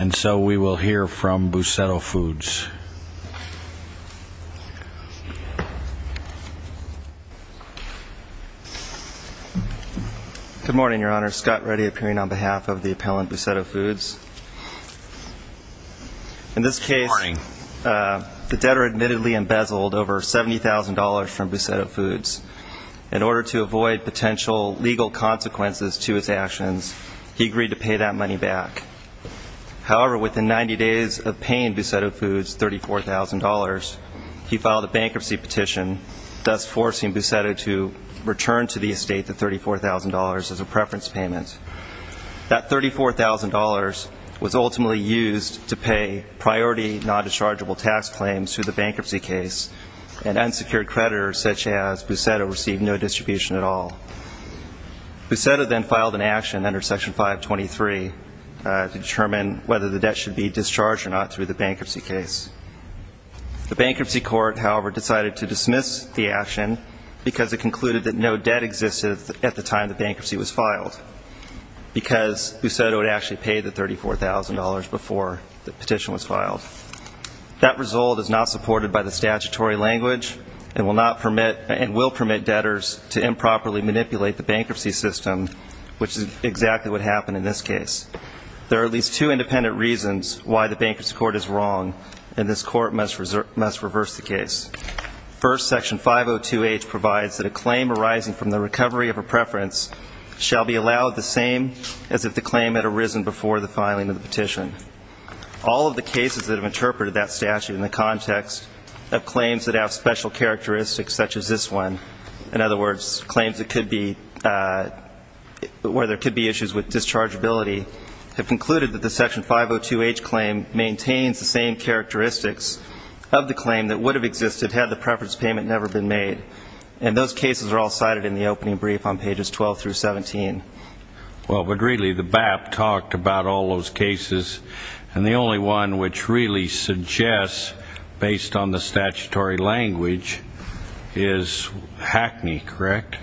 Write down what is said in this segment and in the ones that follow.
And so we will hear from Bussetto Foods. Good morning, Your Honor. Scott Reddy appearing on behalf of the appellant, Bussetto Foods. In this case, the debtor admittedly embezzled over $70,000 from Bussetto Foods. In order to avoid potential legal consequences to his actions, he agreed to pay that money back. However, within 90 days of paying Bussetto Foods $34,000, he filed a bankruptcy petition, thus forcing Bussetto to return to the estate the $34,000 as a preference payment. That $34,000 was ultimately used to pay priority non-dischargeable tax claims to the bankruptcy case, and unsecured creditors such as Bussetto received no distribution at all. Bussetto then filed an action under Section 523 to determine whether the debt should be discharged or not through the bankruptcy case. The bankruptcy court, however, decided to dismiss the action because it concluded that no debt existed at the time the bankruptcy was filed, because Bussetto had actually paid the $34,000 before the petition was filed. That result is not supported by the statutory language and will permit debtors to improperly manipulate the bankruptcy system, which is exactly what happened in this case. There are at least two independent reasons why the bankruptcy court is wrong, and this court must reverse the case. First, Section 502H provides that a claim arising from the recovery of a preference shall be allowed the same as if the claim had arisen before the filing of the petition. All of the cases that have interpreted that statute in the context of claims that have special characteristics such as this one, in other words, claims where there could be issues with dischargeability, have concluded that the Section 502H claim maintains the same characteristics of the claim that would have existed had the preference payment never been made. And those cases are all cited in the opening brief on pages 12 through 17. Well, but really the BAP talked about all those cases, and the only one which really suggests, based on the statutory language, is Hackney, correct?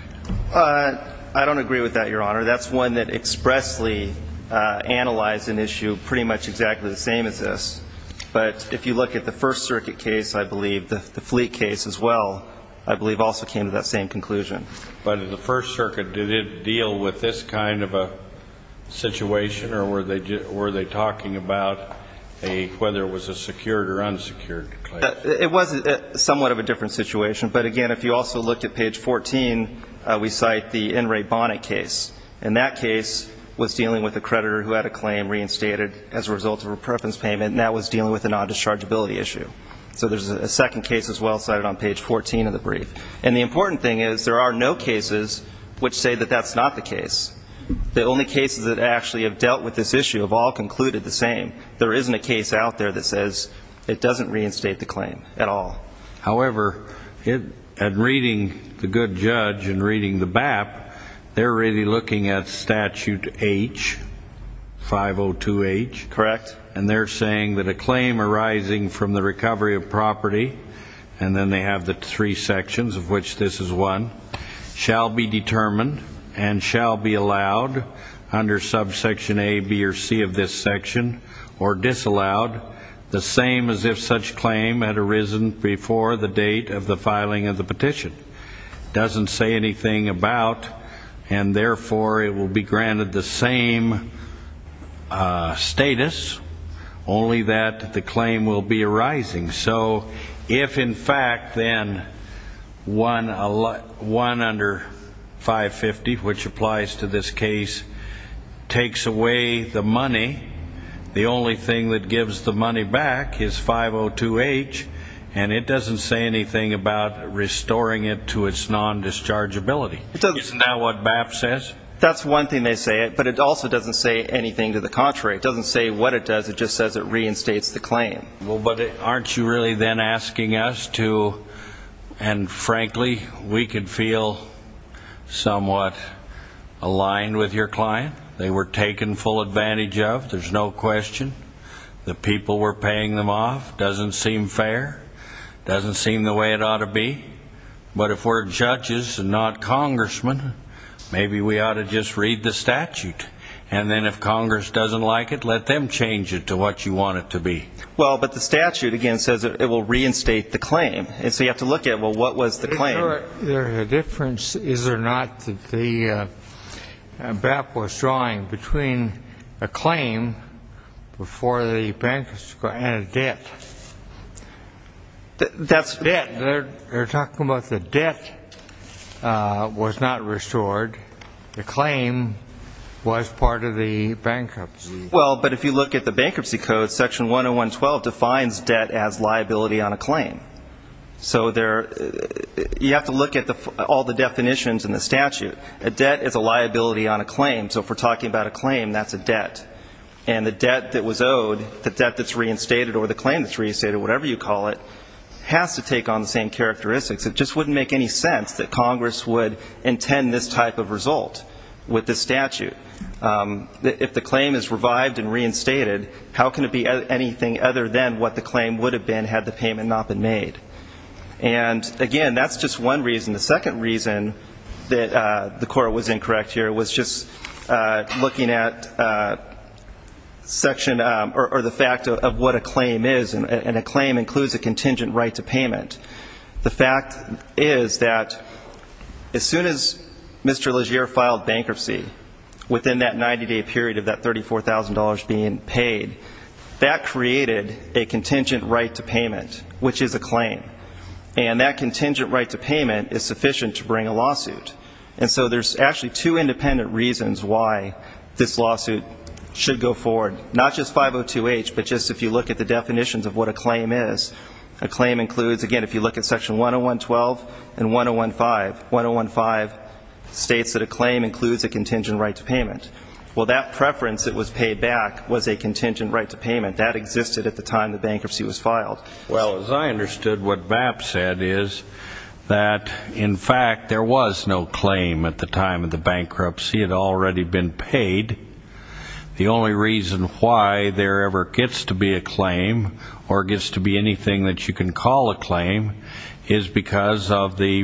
I don't agree with that, Your Honor. That's one that expressly analyzed an issue pretty much exactly the same as this. But if you look at the First Circuit case, I believe, the Fleet case as well, I believe also came to that same conclusion. But in the First Circuit, did it deal with this kind of a situation, or were they talking about whether it was a secured or unsecured claim? It was somewhat of a different situation. But, again, if you also look at page 14, we cite the In re Bonnet case. And that case was dealing with a creditor who had a claim reinstated as a result of a preference payment, and that was dealing with a non-dischargeability issue. So there's a second case as well cited on page 14 of the brief. And the important thing is there are no cases which say that that's not the case. The only cases that actually have dealt with this issue have all concluded the same. There isn't a case out there that says it doesn't reinstate the claim at all. However, in reading the good judge and reading the BAP, they're really looking at statute H, 502H. And they're saying that a claim arising from the recovery of property, and then they have the three sections of which this is one, shall be determined and shall be allowed under subsection A, B, or C of this section or disallowed the same as if such claim had arisen before the date of the filing of the petition. It doesn't say anything about, and therefore it will be granted the same status, only that the claim will be arising. So if, in fact, then one under 550, which applies to this case, takes away the money, the only thing that gives the money back is 502H, and it doesn't say anything about restoring it to its non-dischargeability. Isn't that what BAP says? That's one thing they say, but it also doesn't say anything to the contrary. It doesn't say what it does, it just says it reinstates the claim. Well, but aren't you really then asking us to, and frankly, we could feel somewhat aligned with your client. They were taken full advantage of, there's no question. The people were paying them off, doesn't seem fair, doesn't seem the way it ought to be. But if we're judges and not congressmen, maybe we ought to just read the statute. And then if Congress doesn't like it, let them change it to what you want it to be. Well, but the statute, again, says it will reinstate the claim. And so you have to look at, well, what was the claim? Is there a difference, is there not, that BAP was drawing between a claim before the bankruptcy and a debt? They're talking about the debt was not restored. The claim was part of the bankruptcy. Well, but if you look at the bankruptcy code, section 101.12 defines debt as liability on a claim. So you have to look at all the definitions in the statute. A debt is a liability on a claim, so if we're talking about a claim, that's a debt. And the debt that was owed, the debt that's reinstated or the claim that's reinstated, whatever you call it, has to take on the same characteristics. It just wouldn't make any sense that Congress would intend this type of result with this statute. If the claim is revived and reinstated, how can it be anything other than what the claim would have been had the payment not been made? And, again, that's just one reason. The second reason that the court was incorrect here was just looking at section or the fact of what a claim is, and a claim includes a contingent right to payment. The fact is that as soon as Mr. Legere filed bankruptcy within that 90-day period of that $34,000 being paid, that created a contingent right to payment, which is a claim. And that contingent right to payment is sufficient to bring a lawsuit. And so there's actually two independent reasons why this lawsuit should go forward, not just 502H, but just if you look at the definitions of what a claim is. A claim includes, again, if you look at section 10112 and 1015, 105 states that a claim includes a contingent right to payment. Well, that preference that was paid back was a contingent right to payment. That existed at the time the bankruptcy was filed. Well, as I understood, what BAP said is that, in fact, there was no claim at the time of the bankruptcy. It had already been paid. The only reason why there ever gets to be a claim or gets to be anything that you can call a claim is because of the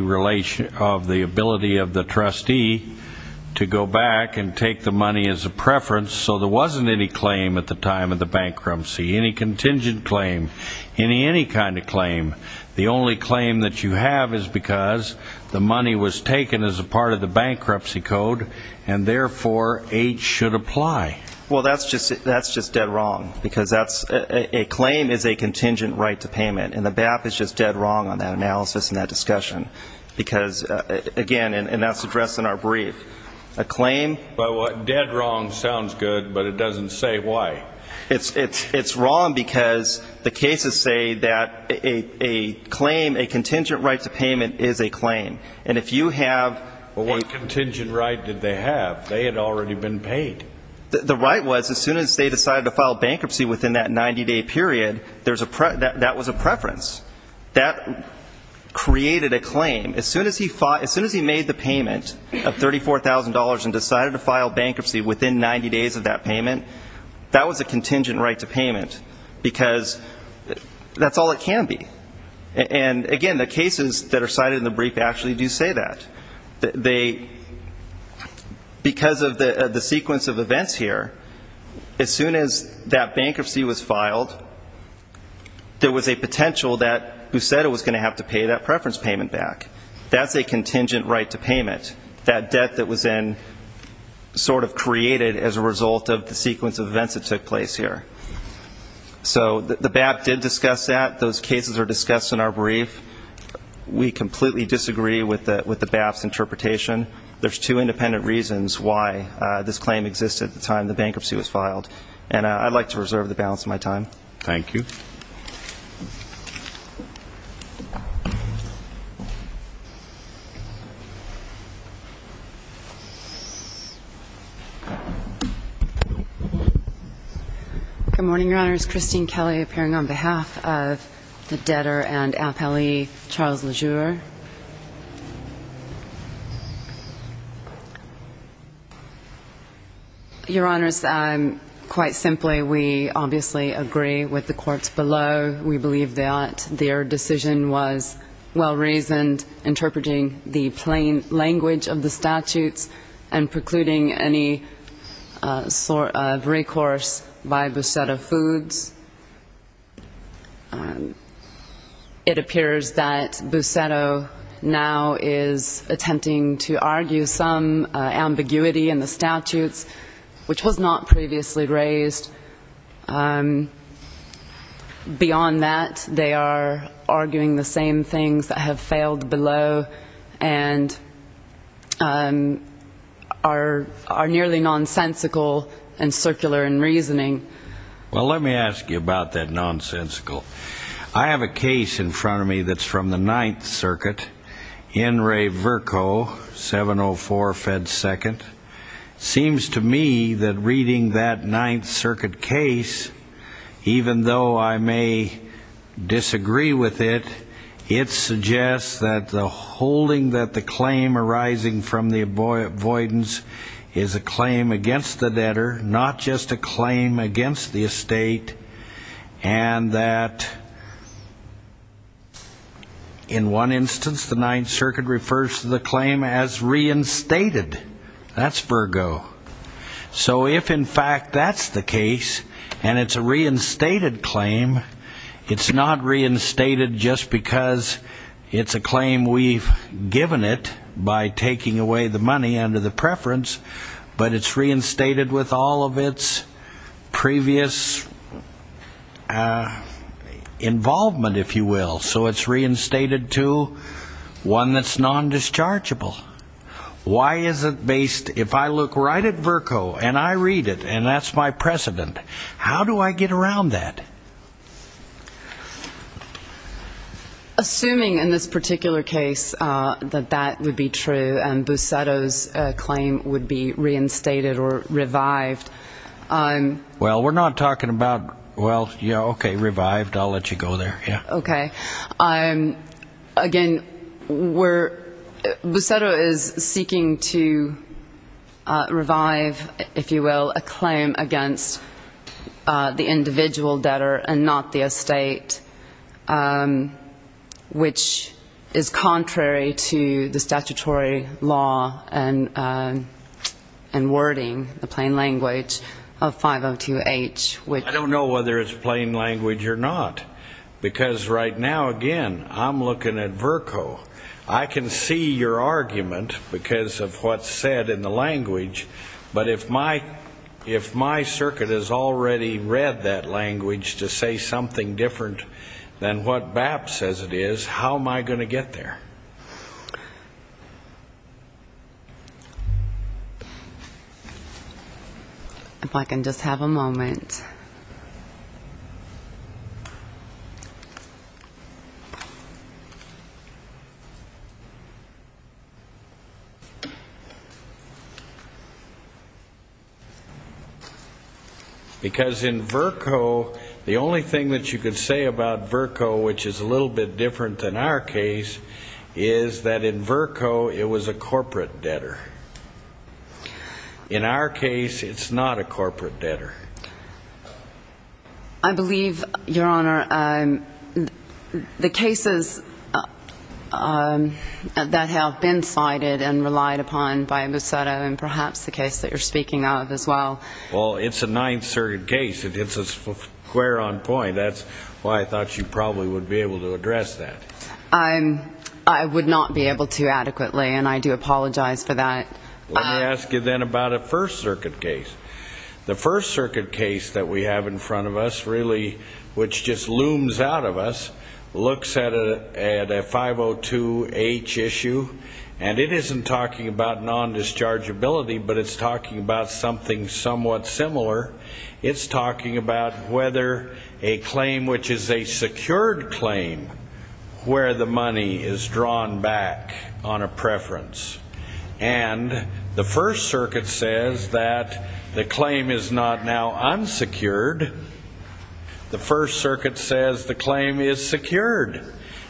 ability of the trustee to go back and take the money as a preference. So there wasn't any claim at the time of the bankruptcy, any contingent claim, any kind of claim. The only claim that you have is because the money was taken as a part of the bankruptcy code, and therefore H should apply. Well, that's just dead wrong, because a claim is a contingent right to payment, and the BAP is just dead wrong on that analysis and that discussion. Because, again, and that's addressed in our brief, a claim Well, dead wrong sounds good, but it doesn't say why. It's wrong because the cases say that a claim, a contingent right to payment, is a claim. And if you have Well, what contingent right did they have? They had already been paid. The right was, as soon as they decided to file bankruptcy within that 90-day period, that was a preference. That created a claim. As soon as he made the payment of $34,000 and decided to file bankruptcy within 90 days of that payment, that was a contingent right to payment, because that's all it can be. And, again, the cases that are cited in the brief actually do say that. Because of the sequence of events here, as soon as that bankruptcy was filed, there was a potential that Busetta was going to have to pay that preference payment back. That's a contingent right to payment, that debt that was then sort of created as a result of the sequence of events that took place here. So the BAP did discuss that. Those cases are discussed in our brief. We completely disagree with the BAP's interpretation. There's two independent reasons why this claim existed at the time the bankruptcy was filed. And I'd like to reserve the balance of my time. Thank you. Good morning, Your Honors. Ms. Christine Kelly appearing on behalf of the debtor and appellee, Charles Lejeur. Your Honors, quite simply, we obviously agree with the courts below. We believe that their decision was well-reasoned, interpreting the plain language of the statutes and precluding any sort of recourse by Busetta Foods. It appears that Busetta now is attempting to argue some ambiguity in the statutes, which was not previously raised. Beyond that, they are arguing the same things that have failed below and are nearly nonsensical and circular in reasoning. Well, let me ask you about that nonsensical. I have a case in front of me that's from the Ninth Circuit, N. Ray Virco, 704 Fed 2nd. It seems to me that reading that Ninth Circuit case, even though I may disagree with it, it suggests that the holding that the claim arising from the avoidance is a claim against the debtor, not just a claim against the estate, and that in one instance, the Ninth Circuit refers to the claim as reinstated. That's Virco. So if, in fact, that's the case, and it's a reinstated claim, it's not reinstated just because it's a claim we've given it by taking away the money under the preference, but it's reinstated with all of its previous involvement, if you will. So it's reinstated to one that's nondischargeable. Why is it based, if I look right at Virco and I read it, and that's my precedent, how do I get around that? Assuming in this particular case that that would be true and Busetto's claim would be reinstated or revived. Well, we're not talking about, well, okay, revived, I'll let you go there, yeah. Okay. Again, Busetto is seeking to revive, if you will, a claim against the individual debtor and not the estate. Which is contrary to the statutory law and wording, the plain language of 502H. I don't know whether it's plain language or not, because right now, again, I'm looking at Virco. I can see your argument because of what's said in the language, but if my circuit has already read that language to say something different, than what BAP says it is, how am I going to get there? If I can just have a moment. Because in Virco, the only thing that you can say about Virco, which is a little bit different than our case, is that in Virco, it was a corporate debtor. In our case, it's not a corporate debtor. I believe, Your Honor, the cases that have been cited and relied upon by Busetto and perhaps the case that you're speaking of as well. Well, it's a ninth circuit case. It hits us square on point. That's why I thought you probably would be able to address that. I would not be able to adequately, and I do apologize for that. Let me ask you then about a first circuit case. The first circuit case that we have in front of us, really, which just looms out of us, looks at a 502H issue, and it isn't talking about non-dischargeability, but it's talking about something somewhat similar. It's talking about whether a claim, which is a secured claim, where the money is drawn back on a preference. And the first circuit says that the claim is not now unsecured. The first circuit says the claim is secured,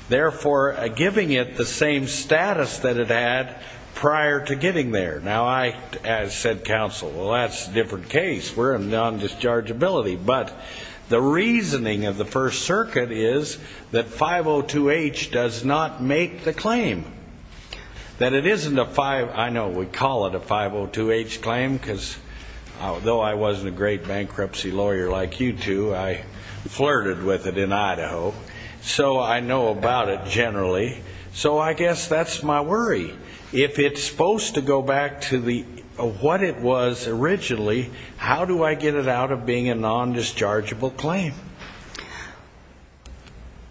therefore giving it the same status that it had prior to getting there. Now, I, as said counsel, well, that's a different case. We're in non-dischargeability, but the reasoning of the first circuit is that 502H does not make the claim. That it isn't a, I know we call it a 502H claim, because though I wasn't a great bankruptcy lawyer like you two, I flirted with it in Idaho, so I know about it generally. So I guess that's my worry. If it's supposed to go back to what it was originally, how do I get it out of being a non-dischargeable claim?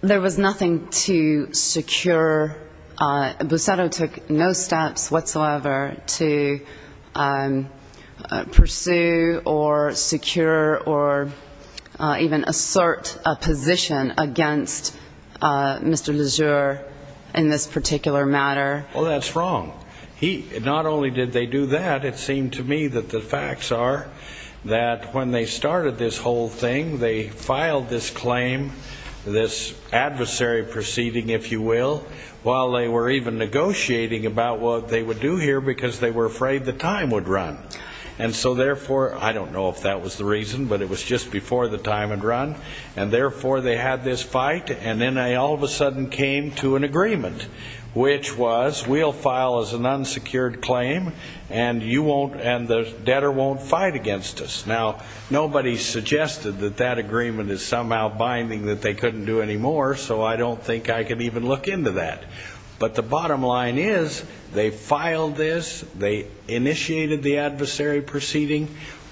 There was nothing to secure. Busetto took no steps whatsoever to pursue or secure or even assert a position against Mr. Lejeur. Well, that's wrong. Not only did they do that, it seemed to me that the facts are that when they started this whole thing, they filed this claim, this adversary proceeding, if you will, while they were even negotiating about what they would do here, because they were afraid the time would run. And so therefore, I don't know if that was the reason, but it was just before the time had run, and therefore they had this fight, and then they all of a sudden came to an agreement, which was we'll file as an unsecured claim, and you won't, and the debtor won't fight against us. Now, nobody suggested that that agreement is somehow binding that they couldn't do anymore, so I don't think I can even look into that. But the bottom line is they filed this, they initiated the adversary proceeding.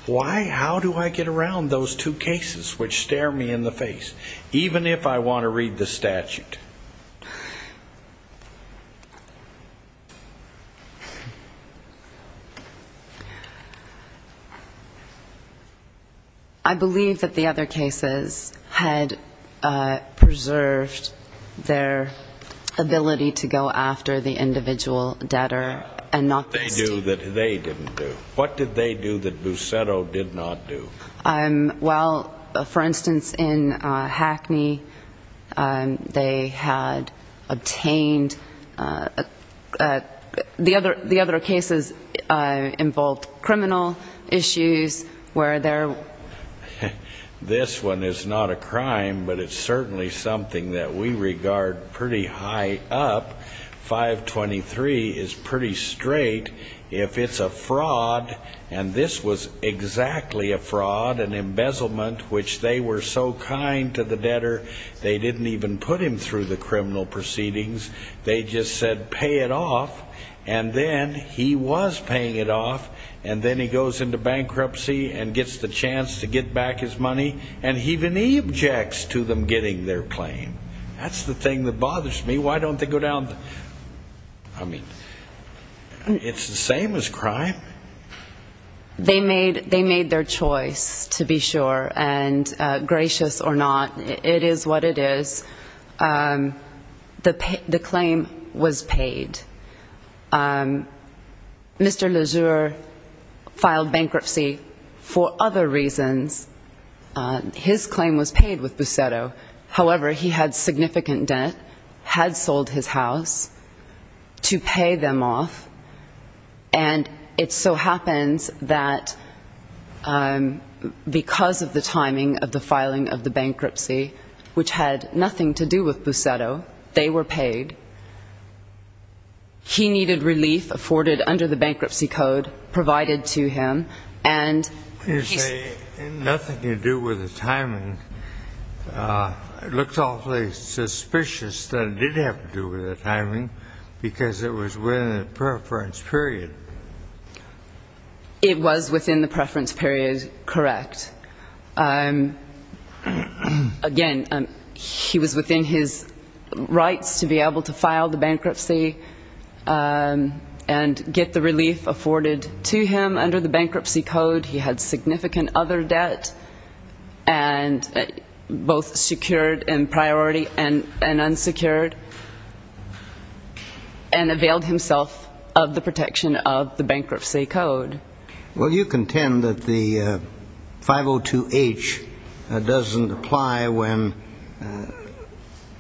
Why, how do I get around those two cases, which stare me in the face, even if I want to read the statute? I believe that the other cases had preserved their ability to negotiate, their ability to go after the individual debtor. They do that they didn't do. What did they do that Busetto did not do? Well, for instance, in Hackney, they had obtained the other cases involved criminal issues, where they're... This one is not a crime, but it's certainly something that we regard pretty high up. 523 is pretty straight. If it's a fraud, and this was exactly a fraud, an embezzlement, which they were so kind to the debtor, they didn't even put him through the criminal proceedings. They just said pay it off, and then he was paying it off, and then he goes into bankruptcy and gets the chance to get back his money, and he then he objects to them getting their claim. That's the thing that bothers me. Why don't they go down the... I mean, it's the same as crime. They made their choice, to be sure, and gracious or not, it is what it is. The claim was paid. Mr. Lejeur filed bankruptcy for other reasons. His claim was paid with Busetto. However, he had significant debt, had sold his house to pay them off, and it so happens that because of the timing of the filing of the bankruptcy, which had nothing to do with Busetto, they were paid. He needed relief afforded under the bankruptcy code provided to him, and he... You say nothing to do with the timing. It looks awfully suspicious that it did have to do with the timing, because it was within the preference period. It was within the preference period, correct. Again, he was within his rights to be able to file the bankruptcy and get the relief afforded to him under the bankruptcy code. He had significant other debt, both secured in priority and unsecured, and availed himself of the protection of the bankruptcy code. Well, you contend that the 502H doesn't apply when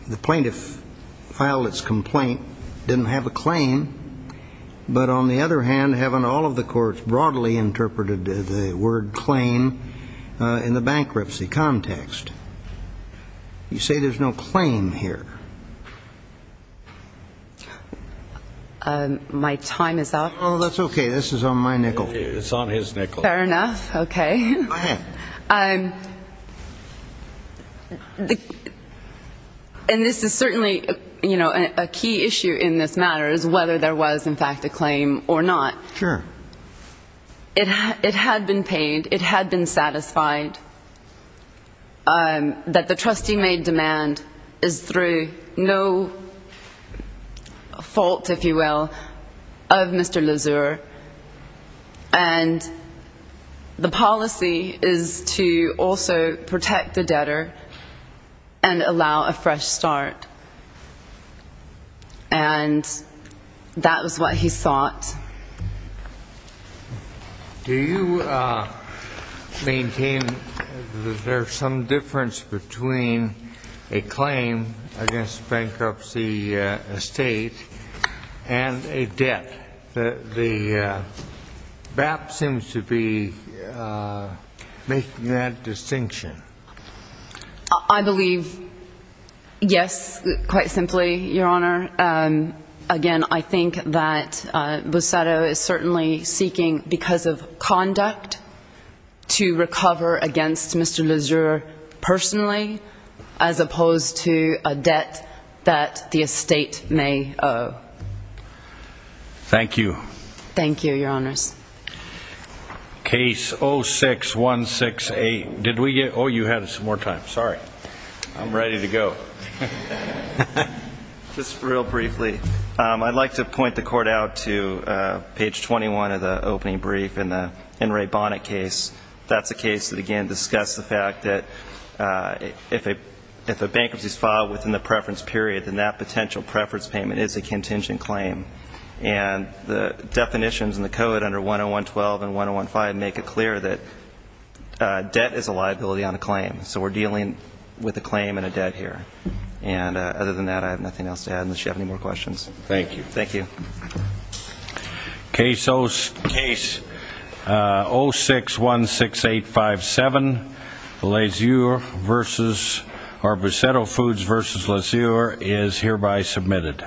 the plaintiff filed its complaint, didn't have a claim, but on the other hand, haven't all of the courts broadly interpreted the word claim in the bankruptcy context? You say there's no claim here. My time is up. Oh, that's okay. This is on my nickel. It's on his nickel. Fair enough. Okay. Go ahead. And this is certainly a key issue in this matter, is whether there was, in fact, a claim or not. It had been paid. It had been satisfied that the trustee-made demand is through no fault, if you will, of Mr. Lezure. And the policy is to also protect the debtor and allow a fresh start. And that was what he sought. Do you maintain that there's some difference between a claim against bankruptcy estate and a debt? The BAP seems to be making that distinction. I believe, yes, quite simply, Your Honor. Again, I think that Busetto is certainly seeking, because of conduct, to recover against Mr. Lezure personally, as opposed to a debt that the estate may owe. Thank you. Case 06168. I'm ready to go. Just real briefly. I'd like to point the Court out to page 21 of the opening brief in the In Re Bonnet case. That's a case that, again, discussed the fact that if a bankruptcy is filed within the preference period, then that potential preference payment is a contingent claim. And the definitions in the code under 10112 and 10115 make it clear that we're dealing with a claim and a debt here. And other than that, I have nothing else to add unless you have any more questions. Thank you. Case 0616857, Busetto Foods v. Lezure, is hereby submitted.